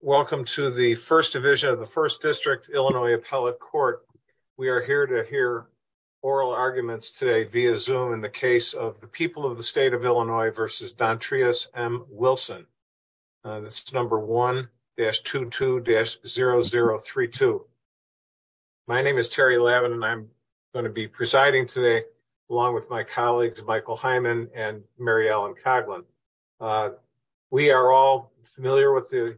Welcome to the first division of the first district Illinois appellate court. We are here to hear oral arguments today via Zoom in the case of the people of the state of Illinois versus Dontreus M. Wilson. This is number 1-22-0032. My name is Terry Lavin and I'm going to be presiding today along with my colleagues Michael Hyman and Mary Ellen Coghlan. We are all familiar with the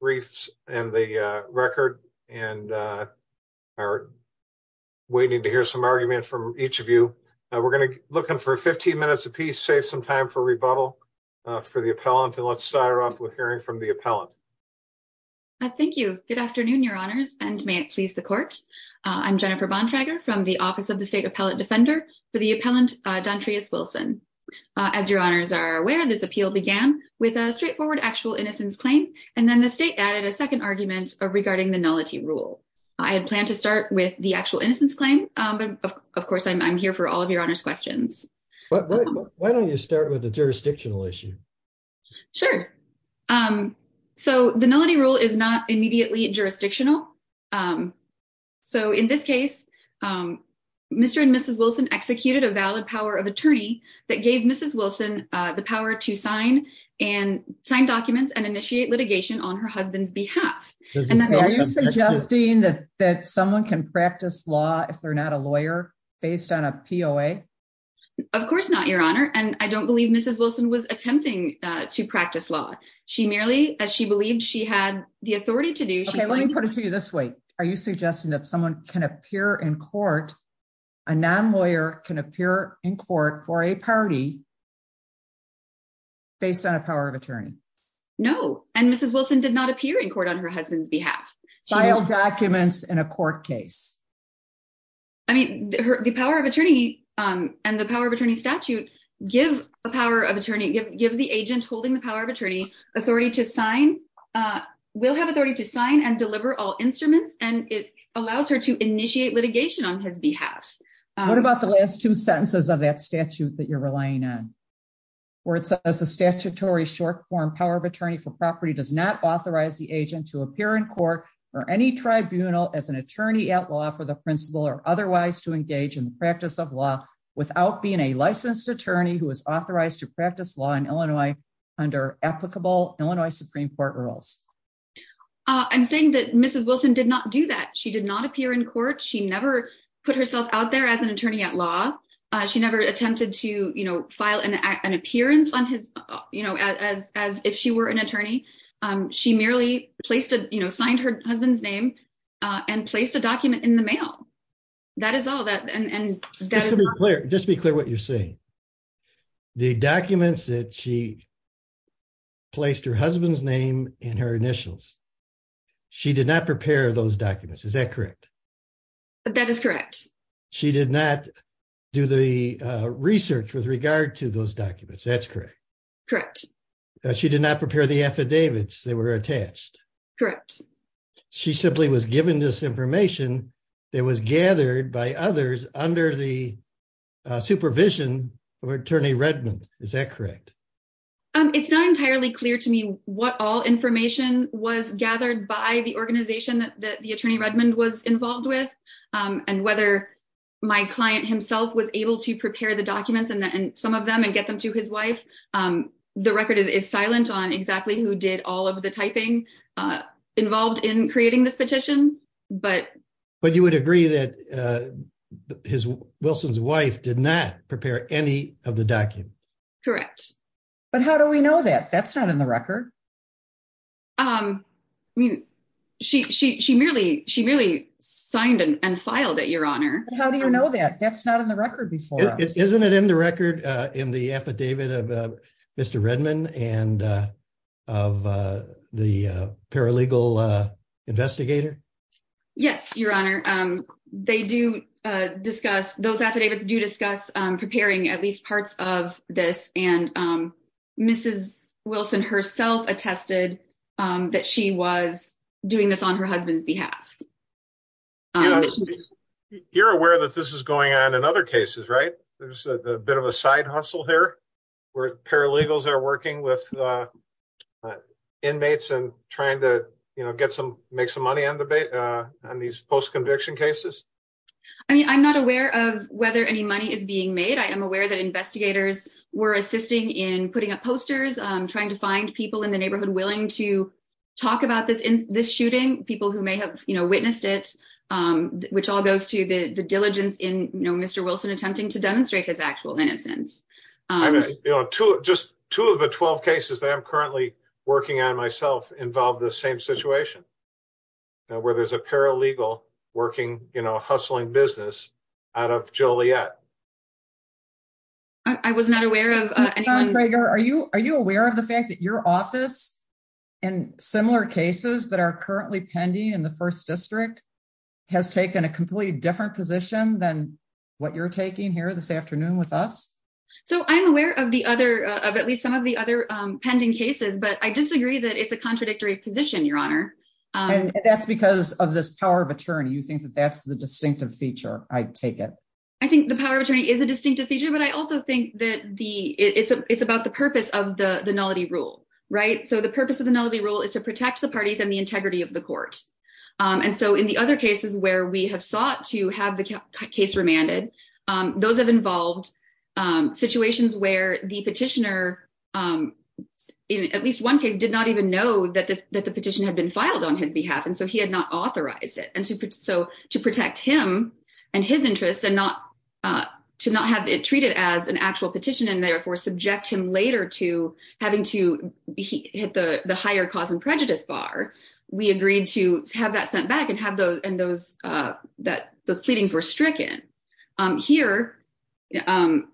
briefs and the record and are waiting to hear some argument from each of you. We're going to look in for 15 minutes a piece, save some time for rebuttal for the appellant and let's start off with hearing from the appellant. Jennifer Bontrager Thank you. Good afternoon, your honors, and may it please the court. I'm Jennifer Bontrager from the Office of the State began with a straightforward actual innocence claim and then the state added a second argument regarding the nullity rule. I had planned to start with the actual innocence claim, but of course I'm here for all of your honors questions. Michael Hyman Why don't you start with the jurisdictional issue? Jennifer Bontrager Sure. So the nullity rule is not immediately jurisdictional. So in this case, Mr. and Mrs. Wilson executed a valid power of attorney that gave Mrs. Wilson the power to sign and sign documents and initiate litigation on her husband's behalf. Are you suggesting that that someone can practice law if they're not a lawyer based on a POA? Of course not, your honor. And I don't believe Mrs. Wilson was attempting to practice law. She merely as she believed she had the authority to do. Michael Hyman Let me put it to you this way. Are you a party based on a power of attorney? Jennifer Bontrager No. And Mrs. Wilson did not appear in court on her husband's behalf. Michael Hyman File documents in a court case. Jennifer Bontrager I mean, the power of attorney and the power of attorney statute give the power of attorney give the agent holding the power of attorney authority to sign, will have authority to sign and deliver all instruments. And it allows her to initiate litigation on his behalf. Michael Hyman What about the last two sentences of that statute that you're relying on? Where it says the statutory short form power of attorney for property does not authorize the agent to appear in court or any tribunal as an attorney at law for the principal or otherwise to engage in the practice of law without being a licensed attorney who is authorized to practice law in Illinois under applicable Illinois Supreme Court rules. Jennifer Bontrager I'm saying that Mrs. Wilson did not do that. She did not appear in court. She never put herself out there as an attorney at law. She never attempted to, you know, file an appearance on his, you know, as if she were an attorney. She merely placed a, you know, signed her husband's name and placed a document in the mail. That is all that. And Michael Hyman Just be clear what you're saying. The documents that she placed her husband's name in her initials, she did not prepare those documents. Is that correct? That is correct. She did not do the research with regard to those documents. That's correct. Correct. She did not prepare the affidavits that were attached. Correct. She simply was given this information that was gathered by others under the supervision of attorney Redmond. Is that correct? It's not entirely clear to me what all information was gathered by the organization that the attorney Redmond was involved with and whether my client himself was able to prepare the documents and some of them and get them to his wife. The record is silent on exactly who did all of the typing involved in creating this petition. But you would agree that Wilson's wife did not prepare any of the documents? Correct. But how do we know that? That's not in the record. I mean, she merely signed and filed it, Your Honor. How do you know that? That's not in the record before. Isn't it in the record in the affidavit of Mr. Redmond and of the paralegal investigator? Yes, Your Honor. Those affidavits do discuss preparing at least parts of this and Wilson herself attested that she was doing this on her husband's behalf. You're aware that this is going on in other cases, right? There's a bit of a side hustle here where paralegals are working with inmates and trying to make some money on these post-conviction cases. I mean, I'm not aware of whether any money is being made. I am aware that investigators were assisting in putting up posters, trying to find people in the neighborhood willing to talk about this shooting, people who may have witnessed it, which all goes to the diligence in Mr. Wilson attempting to demonstrate his actual innocence. Just two of the 12 cases that I'm currently working on myself involve the same situation where there's a paralegal hustling business out of Joliet. I was not aware of anyone. John Greger, are you aware of the fact that your office in similar cases that are currently pending in the First District has taken a completely different position than what you're taking here this afternoon with us? I'm aware of at least some of the other pending cases, but I disagree that it's a contradictory position, Your Honor. That's because of this power of attorney. You think that that's the distinctive feature, I take it. I think the power of attorney is a distinctive feature, but I also think that it's about the purpose of the nullity rule, right? The purpose of the nullity rule is to protect the parties and the integrity of the court. In the other cases where we have sought to have the case remanded, those have involved situations where the petitioner, at least one case, did not even know that the petition had been filed on his behalf, and so he had not authorized it. To protect him and his interests and to not have it treated as an actual petition and therefore subject him later to having to hit the higher cause and prejudice bar, we agreed to have that sent back and those pleadings were stricken. Here, at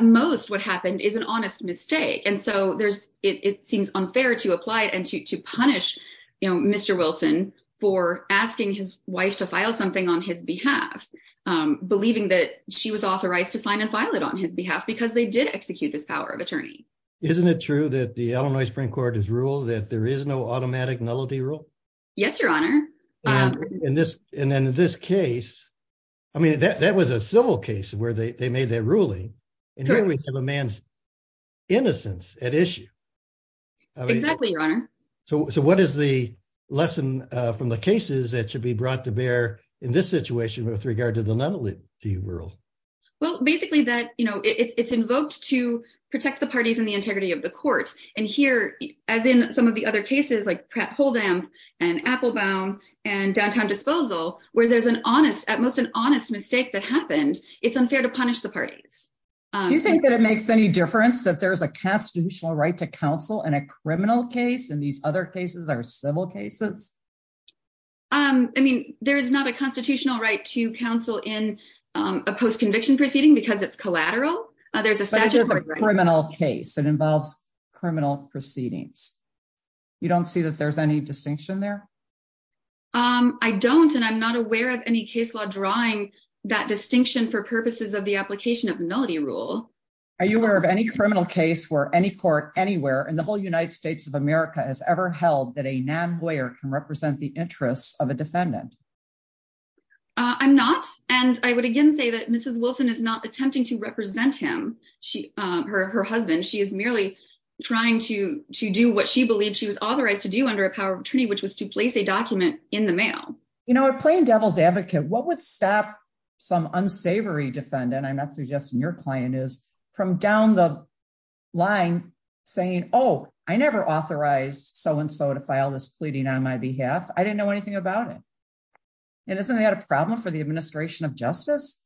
most, what happened is an honest mistake, and so it seems unfair to apply to punish Mr. Wilson for asking his wife to file something on his behalf, believing that she was authorized to sign and file it on his behalf because they did execute this power of attorney. Isn't it true that the Illinois Supreme Court has ruled that there is no automatic nullity rule? Yes, Your Honor. That was a civil case where they made that ruling, and here we have a man's innocence at issue. Exactly, Your Honor. So what is the lesson from the cases that should be brought to bear in this situation with regard to the nullity rule? Well, basically, it's invoked to protect the parties and the integrity of the court, and here, as in some of the other cases like Pratt-Holden and Applebaum and Downtown Disposal, where there's an honest, at most, an honest mistake that happened, it's unfair to punish the parties. Do you think that it makes any difference that there's a constitutional right to counsel in a criminal case and these other cases are civil cases? I mean, there's not a constitutional right to counsel in a post-conviction proceeding because it's collateral. There's a statute of criminal case that involves criminal proceedings. You don't see that there's any distinction there? I don't, and I'm not aware of any case law drawing that distinction for application of the nullity rule. Are you aware of any criminal case where any court anywhere in the whole United States of America has ever held that a non-lawyer can represent the interests of a defendant? I'm not, and I would again say that Mrs. Wilson is not attempting to represent him, her husband. She is merely trying to do what she believed she was authorized to do under a power of attorney, which was to place a document in the mail. You know, a plain devil's advocate, what would stop some unsavory defendant, I'm not suggesting your client is, from down the line saying, oh, I never authorized so-and-so to file this pleading on my behalf. I didn't know anything about it. And isn't that a problem for the administration of justice?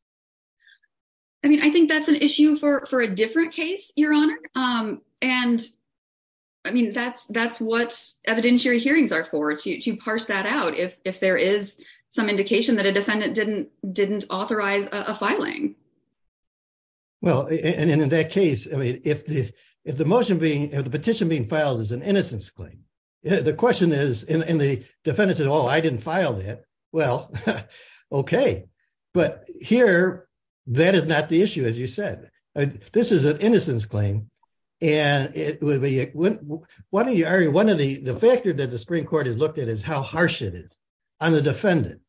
I mean, I think that's an issue for a different case, Your Honor, and I mean, that's what evidentiary hearings are for, to parse that out. If there is some indication that a defendant didn't authorize a filing. Well, and in that case, I mean, if the petition being filed is an innocence claim, the question is, and the defendant says, oh, I didn't file that. Well, okay. But here, that is not the issue, as you said. This is an innocence claim, and it would be, one of the factors that the Supreme Court has looked at is how harsh it is on the defendant.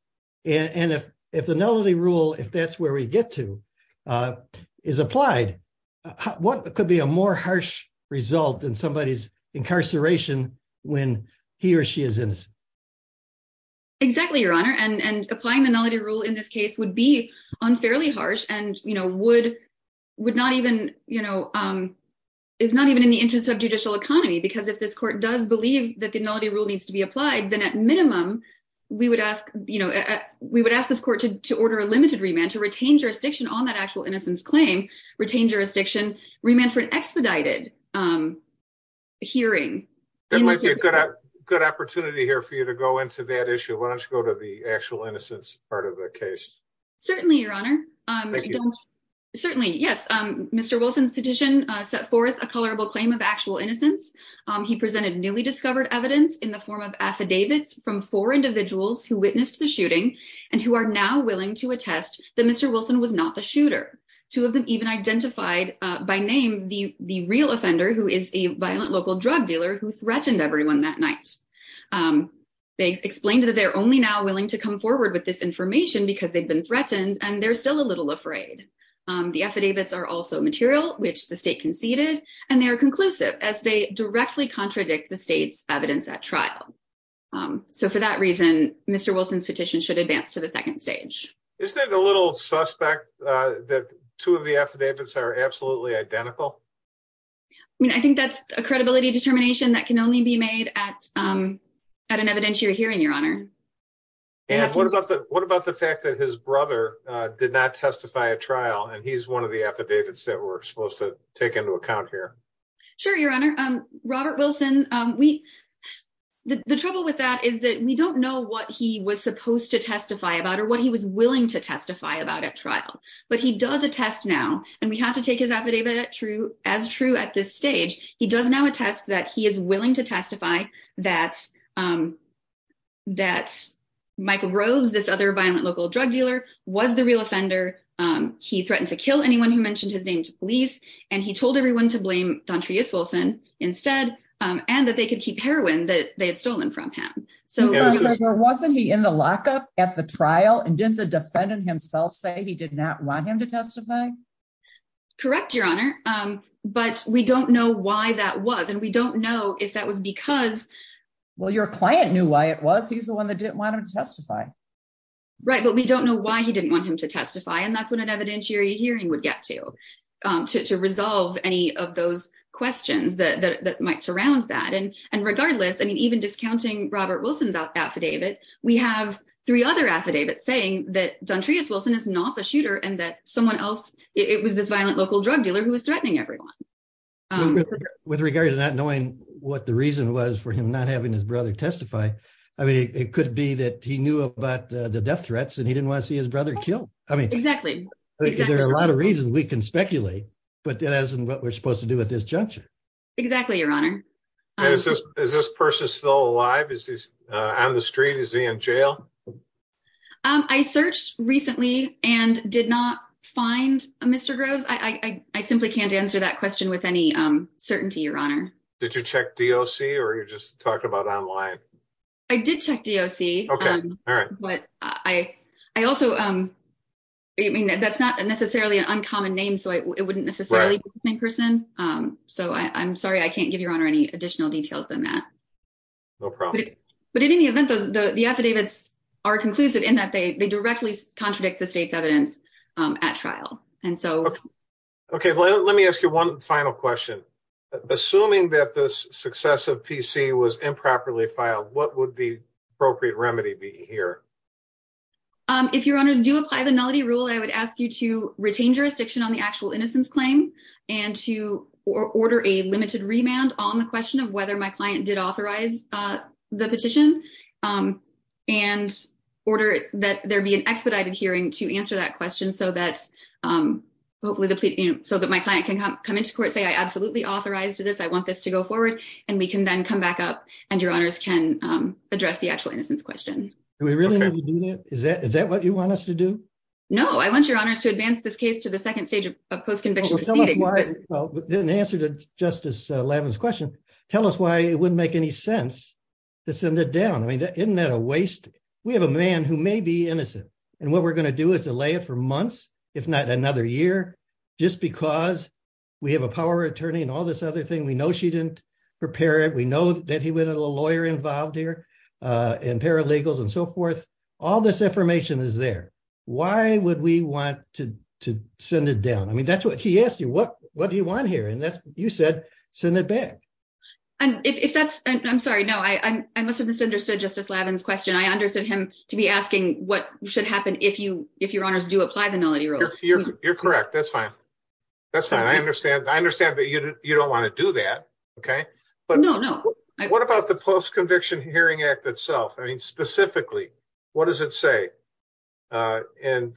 And if the nullity rule, if that's where we get to, is applied, what could be a more harsh result in somebody's incarceration when he or she is innocent? Exactly, Your Honor. And applying the nullity rule in this case would be unfairly harsh and, you know, would not even, you know, is not even in the interest of judicial economy. Because if this court does believe that the nullity rule needs to be applied, then at minimum, we would ask, you know, we would ask this court to order a limited remand to retain jurisdiction on that actual innocence claim, retain jurisdiction, remand for an expedited hearing. That might be a good opportunity here for you to go into that issue. Why don't you go to the actual innocence part of the case? Certainly, Your Honor. Certainly, yes. Mr. Wilson's petition set forth a colorable claim of actual innocence. He presented newly discovered evidence in the form of affidavits from four individuals who witnessed the shooting, and who are now willing to attest that Mr. Wilson was not the shooter. Two of them even identified by name the real offender, who is a violent local drug dealer who threatened everyone that night. They explained that they're only now willing to come forward with this information because they've been threatened, and they're still a little afraid. The affidavits are also material, which the state conceded, and they are conclusive, as they directly contradict the state's evidence at trial. So, for that reason, Mr. Wilson's petition should advance to the second stage. Isn't it a little suspect that two of the affidavits are absolutely identical? I mean, I think that's a credibility determination that can only be made at an evidentiary hearing, Your Honor. And what about the fact that his brother did not testify at trial, and he's one of the affidavits that we're supposed to take into account here? Sure, Your Honor. Robert Wilson, the trouble with that is that we don't know what he was supposed to testify about, or what he was willing to testify about at trial. But he does attest now, and we have to take his affidavit as true at this stage. He does now attest that he is willing to testify that Michael Groves, this other violent local drug dealer, was the real offender. He threatened to kill anyone who mentioned his name to police, and he told everyone to blame Dontreus Wilson instead, and that they could keep heroin that they had stolen from him. So, wasn't he in the lockup at the trial, and didn't the defendant himself say he did not want him to testify? Correct, Your Honor. But we don't know why that was, and we don't know if that was because... Well, your client knew why it was. He's the one that didn't want him to testify. Right, but we don't know why he didn't want him to testify, and that's what an evidentiary hearing would get to, to resolve any of those questions that might surround that. And regardless, I mean, even discounting Robert Wilson's affidavit, we have three other affidavits saying that Dontreus Wilson is not the shooter, and that someone else, it was this violent local drug dealer who was threatening everyone. With regard to not knowing what the reason was for him not having his brother testify, I mean, it could be that he knew about the death threats, and he didn't want to see his brother testify. There are a lot of reasons we can speculate, but that isn't what we're supposed to do at this juncture. Exactly, Your Honor. And is this person still alive? Is he on the street? Is he in jail? I searched recently and did not find Mr. Groves. I simply can't answer that question with any certainty, Your Honor. Did you check DOC, or you just talked about online? I did check DOC. But I also, I mean, that's not necessarily an uncommon name, so it wouldn't necessarily be the same person. So I'm sorry, I can't give Your Honor any additional details than that. No problem. But in any event, the affidavits are conclusive in that they directly contradict the state's evidence at trial. Okay, well, let me ask you one final question. Assuming that the success of PC was improperly filed, what would the appropriate remedy be here? If Your Honors do apply the nullity rule, I would ask you to retain jurisdiction on the actual innocence claim and to order a limited remand on the question of whether my client did authorize the petition and order that there be an expedited hearing to answer that question so that hopefully the plea, you know, so that my client can come into court and say, I absolutely authorized this, I want this to go forward, and we can then come back up and Your Honors can address the actual innocence question. Do we really need to do that? Is that what you want us to do? No, I want Your Honors to advance this case to the second stage of post-conviction proceedings. Well, in answer to Justice Lavin's question, tell us why it wouldn't make any sense to send it down. I mean, isn't that a waste? We have a man who may be innocent, and what we're going to do is delay it for months, if not another year, just because we have a power attorney and all this other thing. We know she didn't prepare it. We know that he went to a lawyer involved here and paralegals and so forth. All this information is there. Why would we want to send it down? I mean, that's what he asked you, what do you want here? And you said, send it back. And if that's, I'm sorry, no, I must have misunderstood Justice Lavin's question. I understood him to be asking what should happen if Your Honors do apply the Nullity Rule. You're correct. That's fine. That's fine. I understand that you don't want to do that. Okay. No, no. What about the Post-Conviction Hearing Act itself? I mean, specifically, what does it say in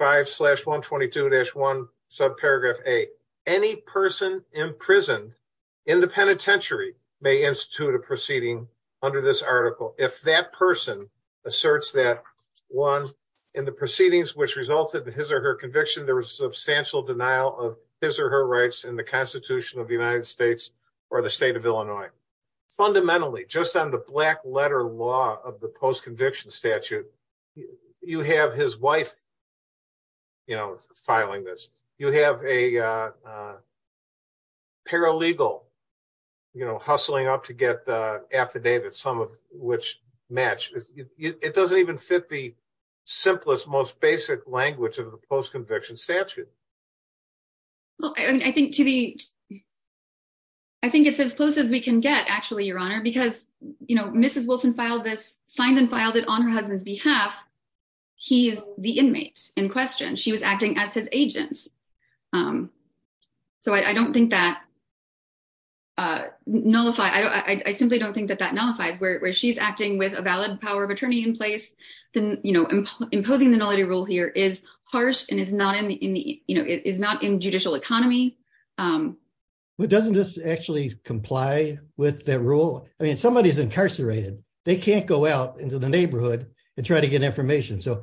5-122-1, subparagraph A, any person imprisoned in the person asserts that, one, in the proceedings which resulted in his or her conviction, there was substantial denial of his or her rights in the Constitution of the United States or the State of Illinois. Fundamentally, just on the black letter law of the post-conviction statute, you have his wife, you know, filing this. You have a paralegal, you know, hustling up to get affidavits, some of which match. It doesn't even fit the simplest, most basic language of the post-conviction statute. Well, I think it's as close as we can get, actually, Your Honor, because, you know, Mrs. Wilson signed and filed it on her husband's behalf. He is the inmate in question. She was acting as his agent. So I don't think that nullifies, I simply don't think that that nullifies, where she's acting with a valid power of attorney in place, then, you know, imposing the nullity rule here is harsh and is not in the, you know, is not in judicial economy. Well, doesn't this actually comply with that rule? I mean, somebody is incarcerated. They can't go out into the neighborhood and try to get information. So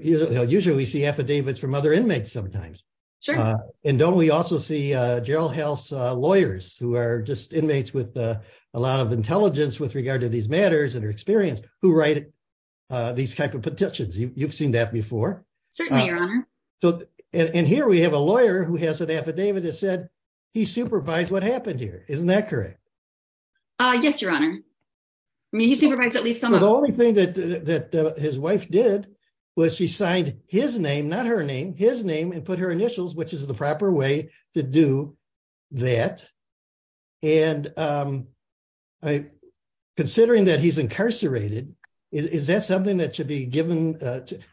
usually we see affidavits from other inmates sometimes. Sure. And don't we also see jailhouse lawyers who are just inmates with a lot of intelligence with regard to these matters and their experience who write these type of petitions? You've seen that before. Certainly, Your Honor. And here we have a lawyer who has an affidavit that said he supervised what happened here. Isn't that correct? Yes, Your Honor. I mean, he supervised at least some of them. The only thing that his wife did was she signed his name, not her name, his name and put her initials, which is the proper way to do that. And considering that he's incarcerated, is that something that should be given?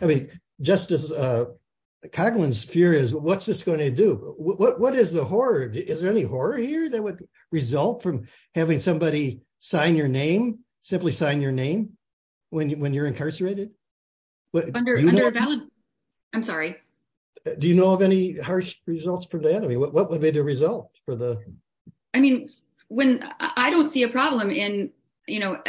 I mean, Justice Coughlin's fear is what's this going to do? What is the horror? Is there any horror here that would result from having somebody sign your name, simply sign your results for the enemy? What would be the result for the? I mean, when I don't see a problem in, you know,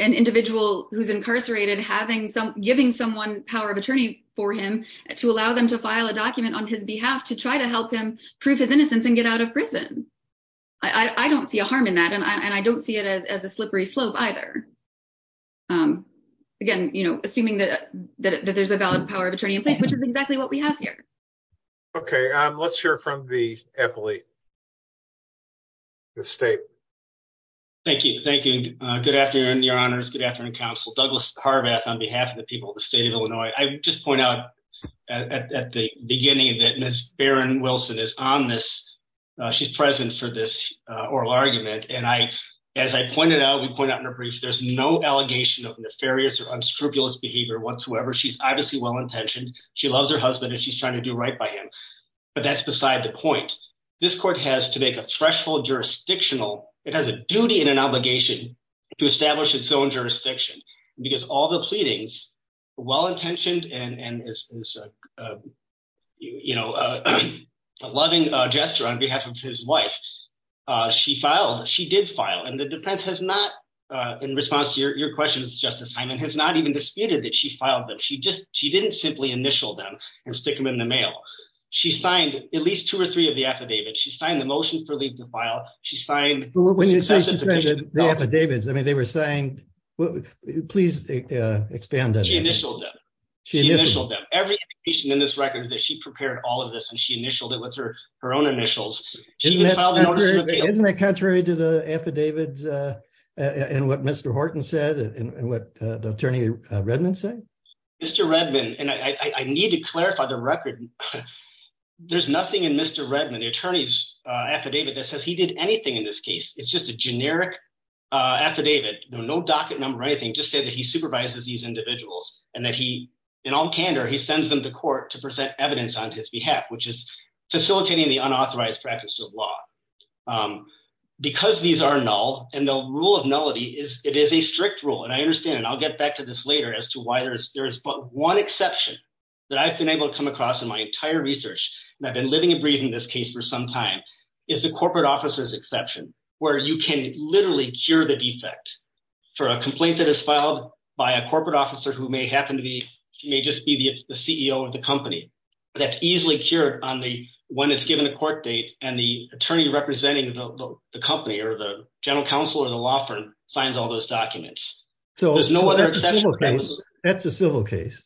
an individual who's incarcerated, having some giving someone power of attorney for him to allow them to file a document on his behalf to try to help him prove his innocence and get out of prison. I don't see a harm in that. And I don't see it as a slippery slope either. Again, you know, assuming that there's a valid power of attorney in place, which is exactly what we have here. Okay. Um, let's hear from the Eppley. Thank you. Thank you. Uh, good afternoon, your honors. Good afternoon. Counsel Douglas Harbath on behalf of the people of the state of Illinois. I just point out at the beginning that Ms. Barron Wilson is on this, uh, she's present for this, uh, oral argument. And I, as I pointed out, we point out in a brief, there's no allegation of nefarious or unscrupulous behavior whatsoever. She's obviously well-intentioned. She loves her husband and she's trying to do right by him, but that's beside the point. This court has to make a threshold jurisdictional, it has a duty and an obligation to establish its own jurisdiction because all the pleadings, well-intentioned and, and is, is, uh, you know, a loving gesture on behalf of his wife. Uh, she filed, she did file and the defense has not, uh, in response to your questions, justice Hyman has not even disputed that she filed them. She just, she didn't simply initial them and stick them in the mail. She signed at least two or three of the affidavits. She signed the motion for leave to file. She signed the affidavits. I mean, they were saying, please expand that. She initialed them. She initialed them. Every patient in this record that she prepared all of this and she initialed it with her, her own initials. Isn't that contrary to the affidavits, uh, and what Mr. Horton said and what the attorney Redmond said? Mr. Redmond. And I need to clarify the record. There's nothing in Mr. Redmond, the attorney's affidavit that says he did anything in this case. It's just a generic, uh, affidavit. No, no docket number or anything. Just say that he supervises these individuals and that he, in all candor, he sends them to court to present evidence on his behalf, which is facilitating the because these are null and they'll rule of nullity is it is a strict rule. And I understand, and I'll get back to this later as to why there's, there's one exception that I've been able to come across in my entire research. And I've been living and breathing this case for some time is the corporate officers exception where you can literally cure the defect for a complaint that is filed by a corporate officer who may happen to be, she may just be the CEO of the company, but that's easily cured on the, when it's given a court date and the attorney representing the company or the general counsel or the law firm signs all those documents. So there's no other exception. That's a civil case.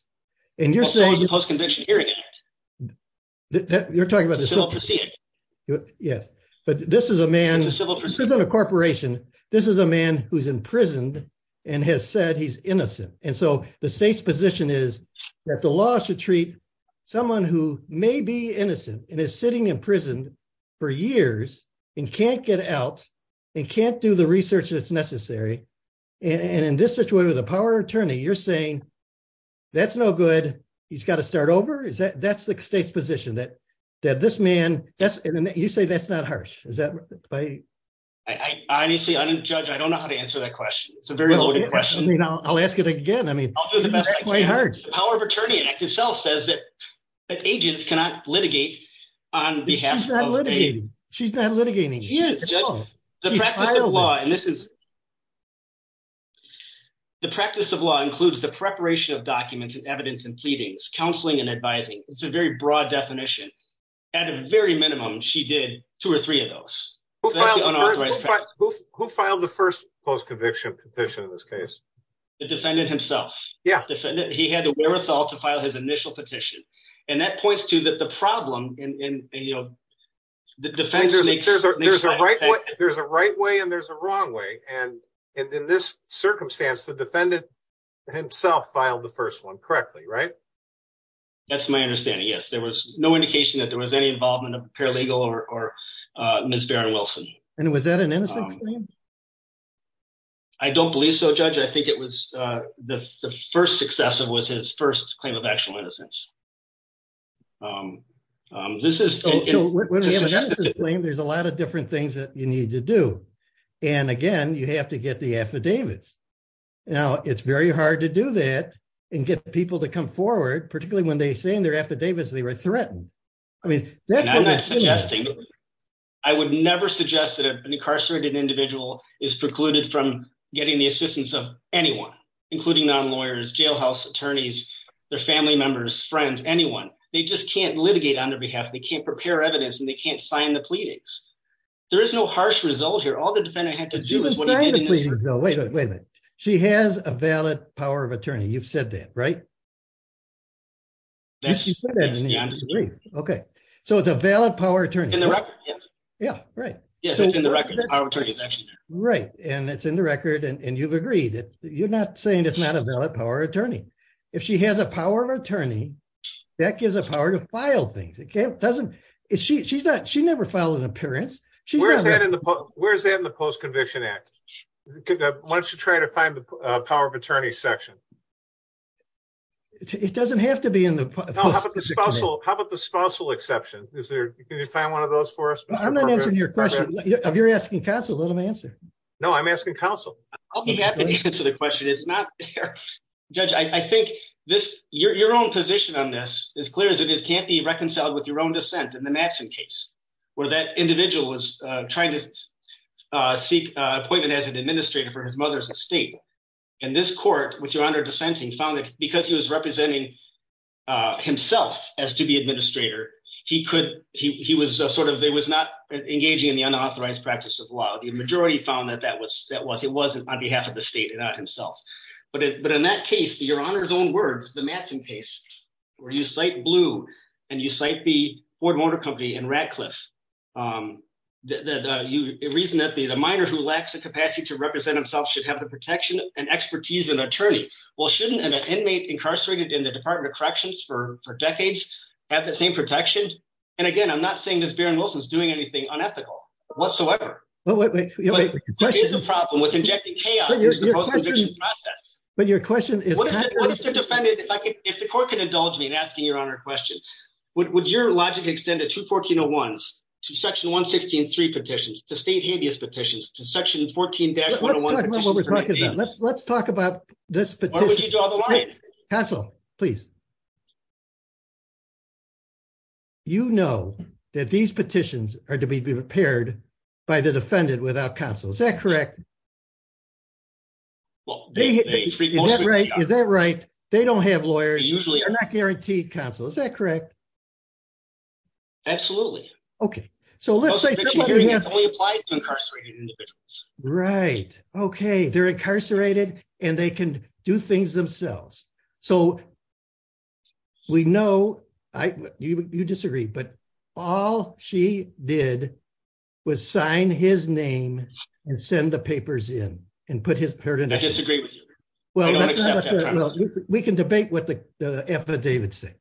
And you're saying the post-conviction hearing act that you're talking about. Yes. But this is a man, this isn't a corporation. This is a man who's imprisoned and has said he's innocent. And so the state's position is that the law is to treat someone who may be innocent and is sitting in prison for years and can't get out and can't do the research that's necessary. And in this situation with a power attorney, you're saying that's no good. He's got to start over. Is that, that's the state's position that, that this man, that's, you say that's not harsh. Is that right? I honestly, I'm a judge. I don't know how to answer that question. It's a very loaded question. I'll ask it again. I mean, the power of attorney act itself says that agents cannot litigate on behalf. She's not litigating. She's not litigating. The practice of law. And this is the practice of law includes the preparation of documents and evidence and pleadings, counseling and advising. It's a very broad definition at a very minimum. She did two or three of those. Who filed the first post-conviction petition in this case? The defendant himself. Yeah. He had the wherewithal to file his initial petition. And that points to that the problem in, you know, the defense. There's a right way and there's a wrong way. And in this circumstance, the defendant himself filed the first one correctly, right? That's my understanding. Yes. There was no indication that there was any involvement of paralegal or Ms. Barron Wilson. And was that an innocence claim? I don't believe so, Judge. I think it was the first successive was his first claim of actual innocence. This is a claim. There's a lot of different things that you need to do. And again, you have to get the affidavits. Now it's very hard to do that and get people to come forward, particularly when they were threatened. I mean, that's what I'm not suggesting. I would never suggest that an incarcerated individual is precluded from getting the assistance of anyone, including non-lawyers, jailhouse attorneys, their family members, friends, anyone. They just can't litigate on their behalf. They can't prepare evidence and they can't sign the pleadings. There is no harsh result here. All the defendant had to do is wait a minute. She has a valid power of attorney. You've said that, right? Okay. So it's a valid power of attorney. Yeah. Right. And it's in the record and you've agreed that you're not saying it's not a valid power of attorney. If she has a power of attorney, that gives a power to file things. She never filed an appearance. Where's that in the record? It doesn't have to be in the- How about the spousal exception? Can you find one of those for us? I'm not answering your question. If you're asking counsel, let him answer. No, I'm asking counsel. I'll be happy to answer the question. It's not there. Judge, I think your own position on this is clear as it is can't be reconciled with your own dissent in the Matson case, where that individual was trying to seek appointment as an administrator for his mother's estate. And this court, with your honor dissenting, found that because he was representing himself as to be administrator, he was not engaging in the unauthorized practice of law. The majority found that it wasn't on behalf of the state and not himself. But in that case, your honor's own words, the Matson case, where you cite Blue and you cite the Ford Motor Company and Radcliffe, the reason that the minor who lacks the capacity to represent himself should have the protection and expertise of an attorney. Well, shouldn't an inmate incarcerated in the Department of Corrections for decades have the same protection? And again, I'm not saying this Barron Wilson is doing anything unethical whatsoever. There is a problem with injecting chaos in the post-conviction process. But your question is- What if the defendant, if the court can indulge me in asking your honor a question, would your logic extend to 21401s, to section 116.3 petitions, to state habeas petitions, to section 14-101 petitions for habeas? Let's talk about what we're talking about. Let's talk about this petition. Why would you draw the line? Counsel, please. You know that these petitions are to be prepared by the defendant without counsel. Is that correct? Well, they- Is that right? Is that right? They don't have lawyers. They usually- They're not guaranteed counsel. Is that correct? Absolutely. Okay. So let's say- It only applies to incarcerated individuals. Right. Okay. They're incarcerated and they can do things themselves. So we know- You disagree, but all she did was sign his name and send the papers in and put his- I disagree with you. I don't accept that. We can debate what the affidavits say.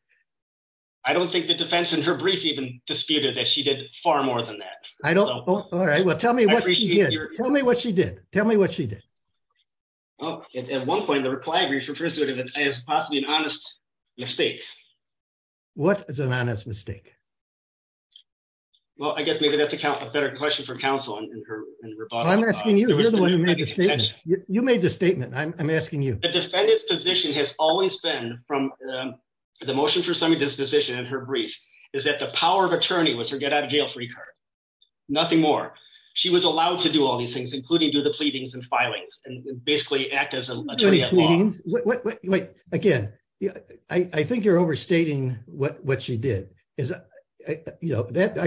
I don't think the defense in her brief even disputed that she did far more than that. I don't- All right. Well, tell me what she did. Tell me what she did. Tell me what she did. Well, at one point in the reply brief, it was possibly an honest mistake. What is an honest mistake? Well, I guess maybe that's a better question for counsel in her rebuttal. I'm asking you. You're the one who made the statement. You made the statement. I'm asking you. The defendant's position has always been from the motion for semi-disposition in her brief is that the power of attorney was her get-out-of-jail-free card. Nothing more. She was allowed to do all these things, including do the pleadings and filings, and basically act as an attorney at law. Wait. Again, I think you're overstating what she did. I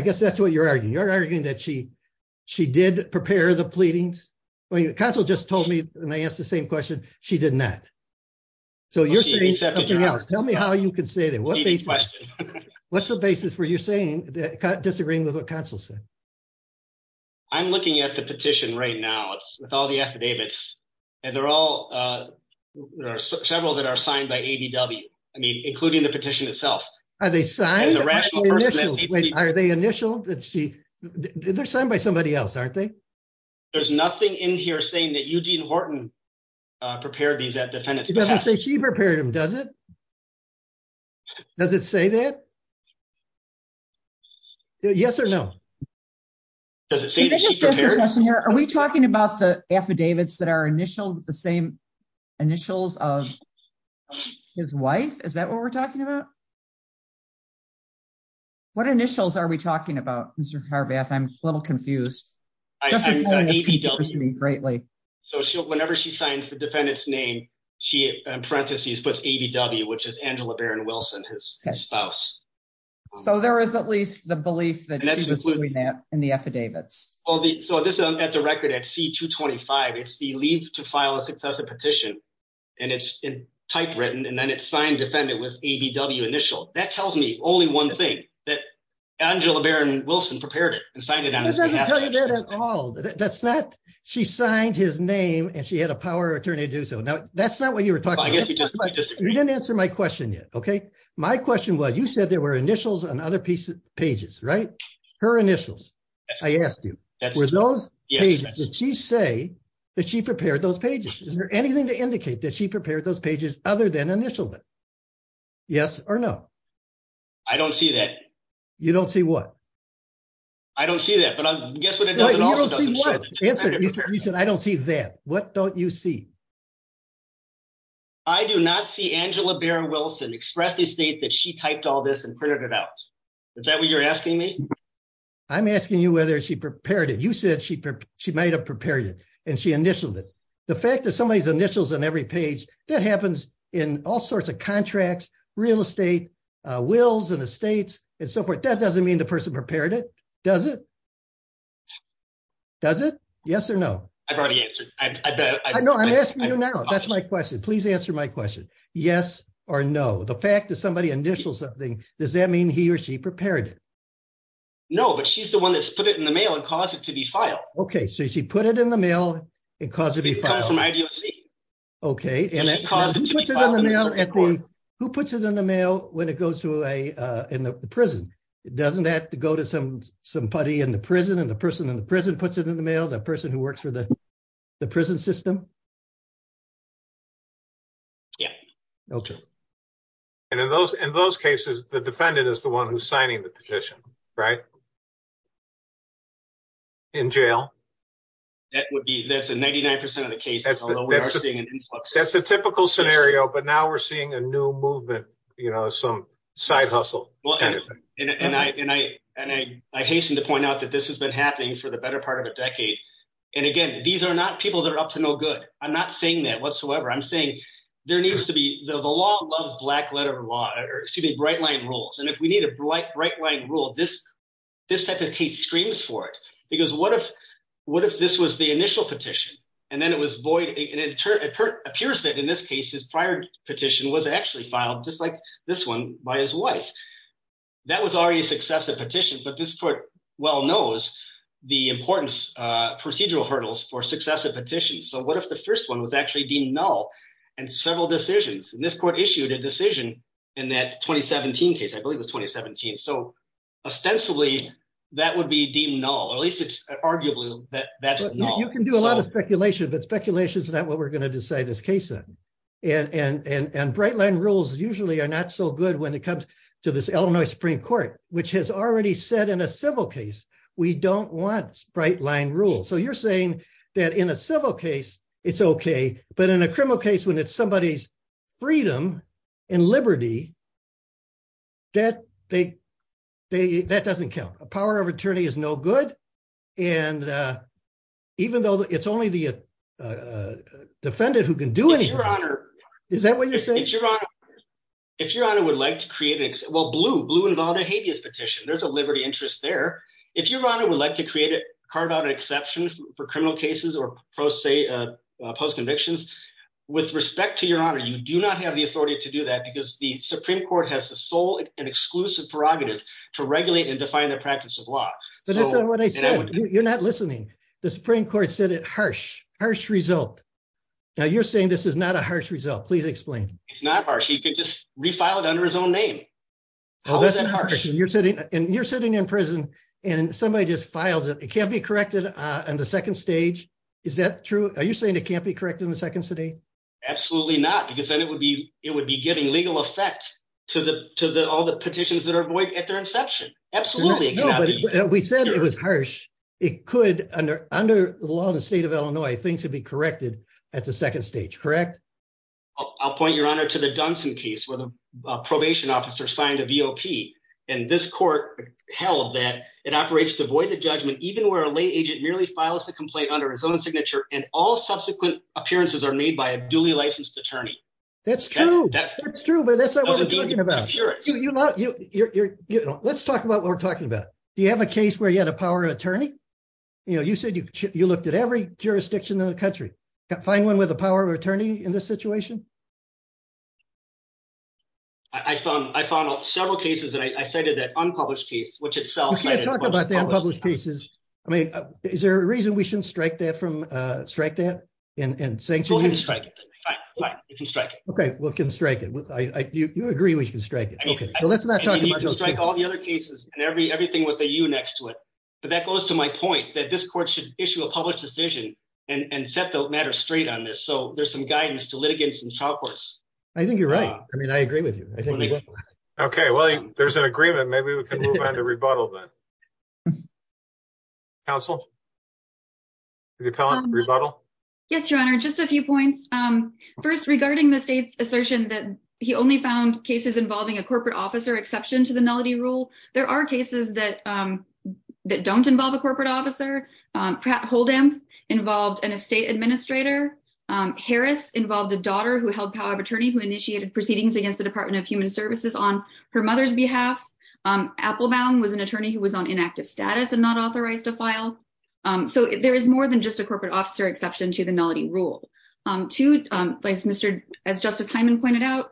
guess that's what you're arguing. You're arguing that she did prepare the pleadings? Counsel just told me when I asked the same question, she did not. So you're saying something else. Tell me how you can say these questions. What's the basis for you disagreeing with what counsel said? I'm looking at the petition right now with all the affidavits, and there are several that are signed by ADW, including the petition itself. Are they signed? Are they initialed? Let's see. They're signed by somebody else, aren't they? There's nothing in here saying that Eugene Horton prepared these defendants. It doesn't say she prepared them, does it? Does it say that? Yes or no? Are we talking about the affidavits that are initialed with the same initials of his wife? Is that what we're talking about? What initials are we talking about, Mr. Harvath? I'm a little confused. So whenever she signs the defendant's name, she in parentheses puts ADW, which is Angela Barron Wilson, his spouse. So there is at least the belief that she was doing that in the affidavits. So at the record at C-225, it's the leave to file a successive petition, and it's typewritten, and then it's signed defendant with ADW initial. That tells me only one thing, that Angela Barron Wilson prepared it and signed it on his behalf. It doesn't tell you that at all. She signed his name and she had a power of attorney to do so. That's not what you were talking about. You didn't answer my question yet, okay? My question was, you said there were initials on other pages, right? Her initials, I asked you, were those pages that she say that she prepared those pages? Is there anything to indicate that she prepared those pages other than initialed it? Yes or no? I don't see that. You don't see what? I don't see that, but guess what it also doesn't show? Answer it. You said I don't see that. What don't you see? I do not see Angela Barron Wilson express the state that she typed all this and printed it out. Is that what you're asking me? I'm asking you whether she prepared it. You said she might have prepared it, and she initialed it. The fact that somebody's initials on every page, that happens in all sorts of contracts, real estate, wills, and estates, and so forth. That doesn't mean the person prepared it, does it? Does it? Yes or no? I've already answered. I bet. No, I'm asking you now. That's my question. Please answer my question. Yes or no? The fact that somebody initials something, does that mean he or she prepared it? No, but she's the one that's put it in the mail and caused it to be filed. Okay, so she put it in the mail and caused it to be filed. It came from IDOC. Okay, and who puts it in the mail when it goes to a prison? It doesn't have to go to somebody in the prison, and the person in the prison puts it in the mail, the person who works the prison system? Yeah. Okay. And in those cases, the defendant is the one who's signing the petition, right? In jail? That would be, that's a 99% of the cases, although we are seeing an influx. That's a typical scenario, but now we're seeing a new movement, you know, some side hustle. Well, and I hasten to point out that this has been happening for the better part of a decade, and again, these are not people that are up to no good. I'm not saying that whatsoever. I'm saying there needs to be, the law loves black letter law, excuse me, bright line rules, and if we need a bright line rule, this type of case screams for it, because what if this was the initial petition, and then it was void, and it appears that in this case, his prior petition was actually filed, just like this one, by his wife. That was already a successive petition, but this court well knows the importance, procedural hurdles for successive petitions, so what if the first one was actually deemed null, and several decisions, and this court issued a decision in that 2017 case, I believe it was 2017, so ostensibly, that would be deemed null, or at least it's arguably that that's null. You can do a lot of speculation, but speculation is not what we're going to decide this case in, and bright line rules usually are not so good when it said in a civil case, we don't want bright line rules, so you're saying that in a civil case, it's okay, but in a criminal case, when it's somebody's freedom and liberty, that doesn't count. A power of attorney is no good, and even though it's only the defendant who can do anything, is that what you're saying? Your honor, if your honor would like to there's a liberty interest there. If your honor would like to create it, carve out an exception for criminal cases, or post-convictions, with respect to your honor, you do not have the authority to do that, because the supreme court has the sole and exclusive prerogative to regulate and define the practice of law. But that's not what I said. You're not listening. The supreme court said it's a harsh result. Now you're saying this is not a harsh result. Please explain. It's not harsh. He could just refile it under his own name. How is that harsh? You're sitting in prison, and somebody just files it. It can't be corrected on the second stage. Is that true? Are you saying it can't be corrected in the second city? Absolutely not, because then it would be giving legal effect to all the petitions that are void at their inception. Absolutely. No, but we said it was harsh. It could, under the law of the state of Illinois, things would be corrected at the second stage, correct? I'll point your honor to the Dunson case, where the probation officer signed a VOP, and this court held that it operates to void the judgment, even where a lay agent merely files a complaint under his own signature, and all subsequent appearances are made by a duly licensed attorney. That's true, but that's not what we're talking about. Let's talk about what we're talking about. Do you have a case where you had a power of attorney? You said you looked at every jurisdiction in the country. Can't find one with a power of attorney in this situation? I found out several cases, and I cited that unpublished case, which itself... We can't talk about the unpublished cases. I mean, is there a reason we shouldn't strike that and sanction you? Go ahead and strike it, then. Fine, fine. You can strike it. Okay, we can strike it. You agree we can strike it. Okay, but let's not talk about those cases. You can strike all the other cases, and everything with a U next to it, but that goes to my point that this court should issue a decision and set the matter straight on this, so there's some guidance to litigants and trial courts. I think you're right. I mean, I agree with you. Okay, well, there's an agreement. Maybe we can move on to rebuttal, then. Counsel? Rebuttal? Yes, Your Honor. Just a few points. First, regarding the state's assertion that he only found cases involving a corporate officer exception to nullity rule, there are cases that don't involve a corporate officer. Pat Holden involved an estate administrator. Harris involved a daughter who held power of attorney who initiated proceedings against the Department of Human Services on her mother's behalf. Applebaum was an attorney who was on inactive status and not authorized to file, so there is more than just a corporate officer exception to the nullity rule. Two, as Justice Hyman pointed out,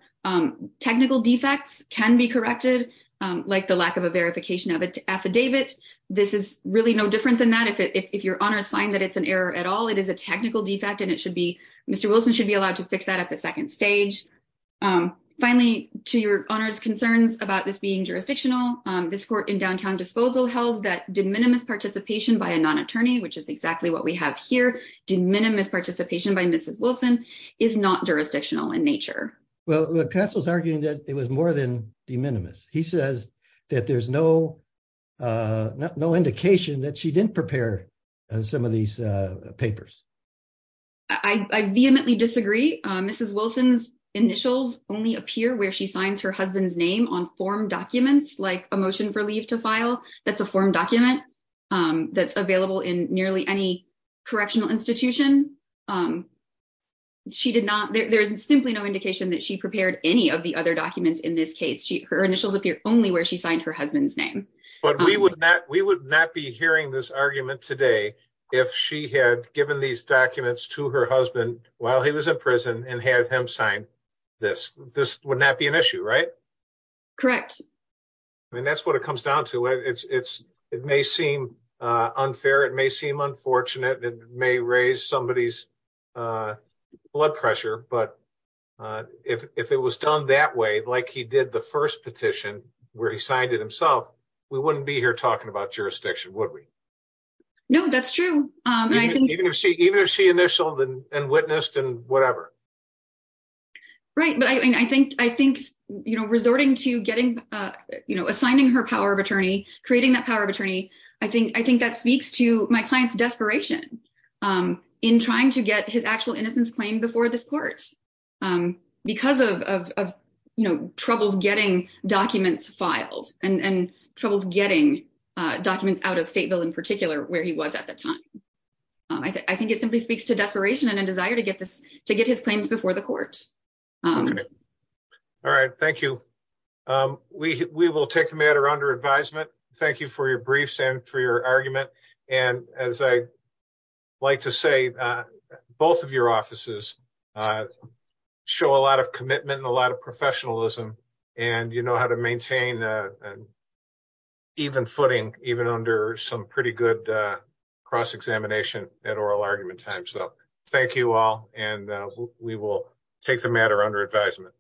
technical defects can be corrected, like the lack of a verification of an affidavit. This is really no different than that. If your honors find that it's an error at all, it is a technical defect, and Mr. Wilson should be allowed to fix that at the second stage. Finally, to Your Honor's concerns about this being jurisdictional, this court in downtown disposal held that de minimis participation by a non-attorney, which is exactly what we have here, de minimis participation by Mrs. Wilson, is not jurisdictional in nature. Well, the counsel's arguing that it was more than de minimis. He says that there's no indication that she didn't prepare some of these papers. I vehemently disagree. Mrs. Wilson's initials only appear where she signs her husband's name on form documents, like a motion for leave to file. That's a form document that's available in nearly any correctional institution. There is simply no indication that she prepared any of the other documents in this case. Her initials appear only where she signed her husband's name. But we would not be hearing this argument today if she had given these documents to her husband while he was in prison and had him sign this. This would not be an issue, right? Correct. I mean, that's what it comes down to. It may seem unfair. It may seem unfortunate. It may raise somebody's blood pressure. But if it was done that way, like he did the first petition where he signed it himself, we wouldn't be here talking about jurisdiction, would we? No, that's true. Even if she initialed and witnessed and whatever. Right. But I think resorting to assigning her power of attorney, creating that power of attorney, I think that speaks to my client's desperation in trying to get his actual innocence claim before this court because of troubles getting documents filed and troubles getting documents out of state bill in particular where he was at that time. I think it simply speaks to desperation and a desire to get this to get his claims before the court. All right. Thank you. We will take the matter under advisement. Thank you for your briefs and for your argument. And as I like to say, both of your offices show a lot of commitment, a lot of professionalism, and you know how to maintain an even footing even under some pretty good cross examination at oral argument time. So thank you all. And we will take the matter under advisement.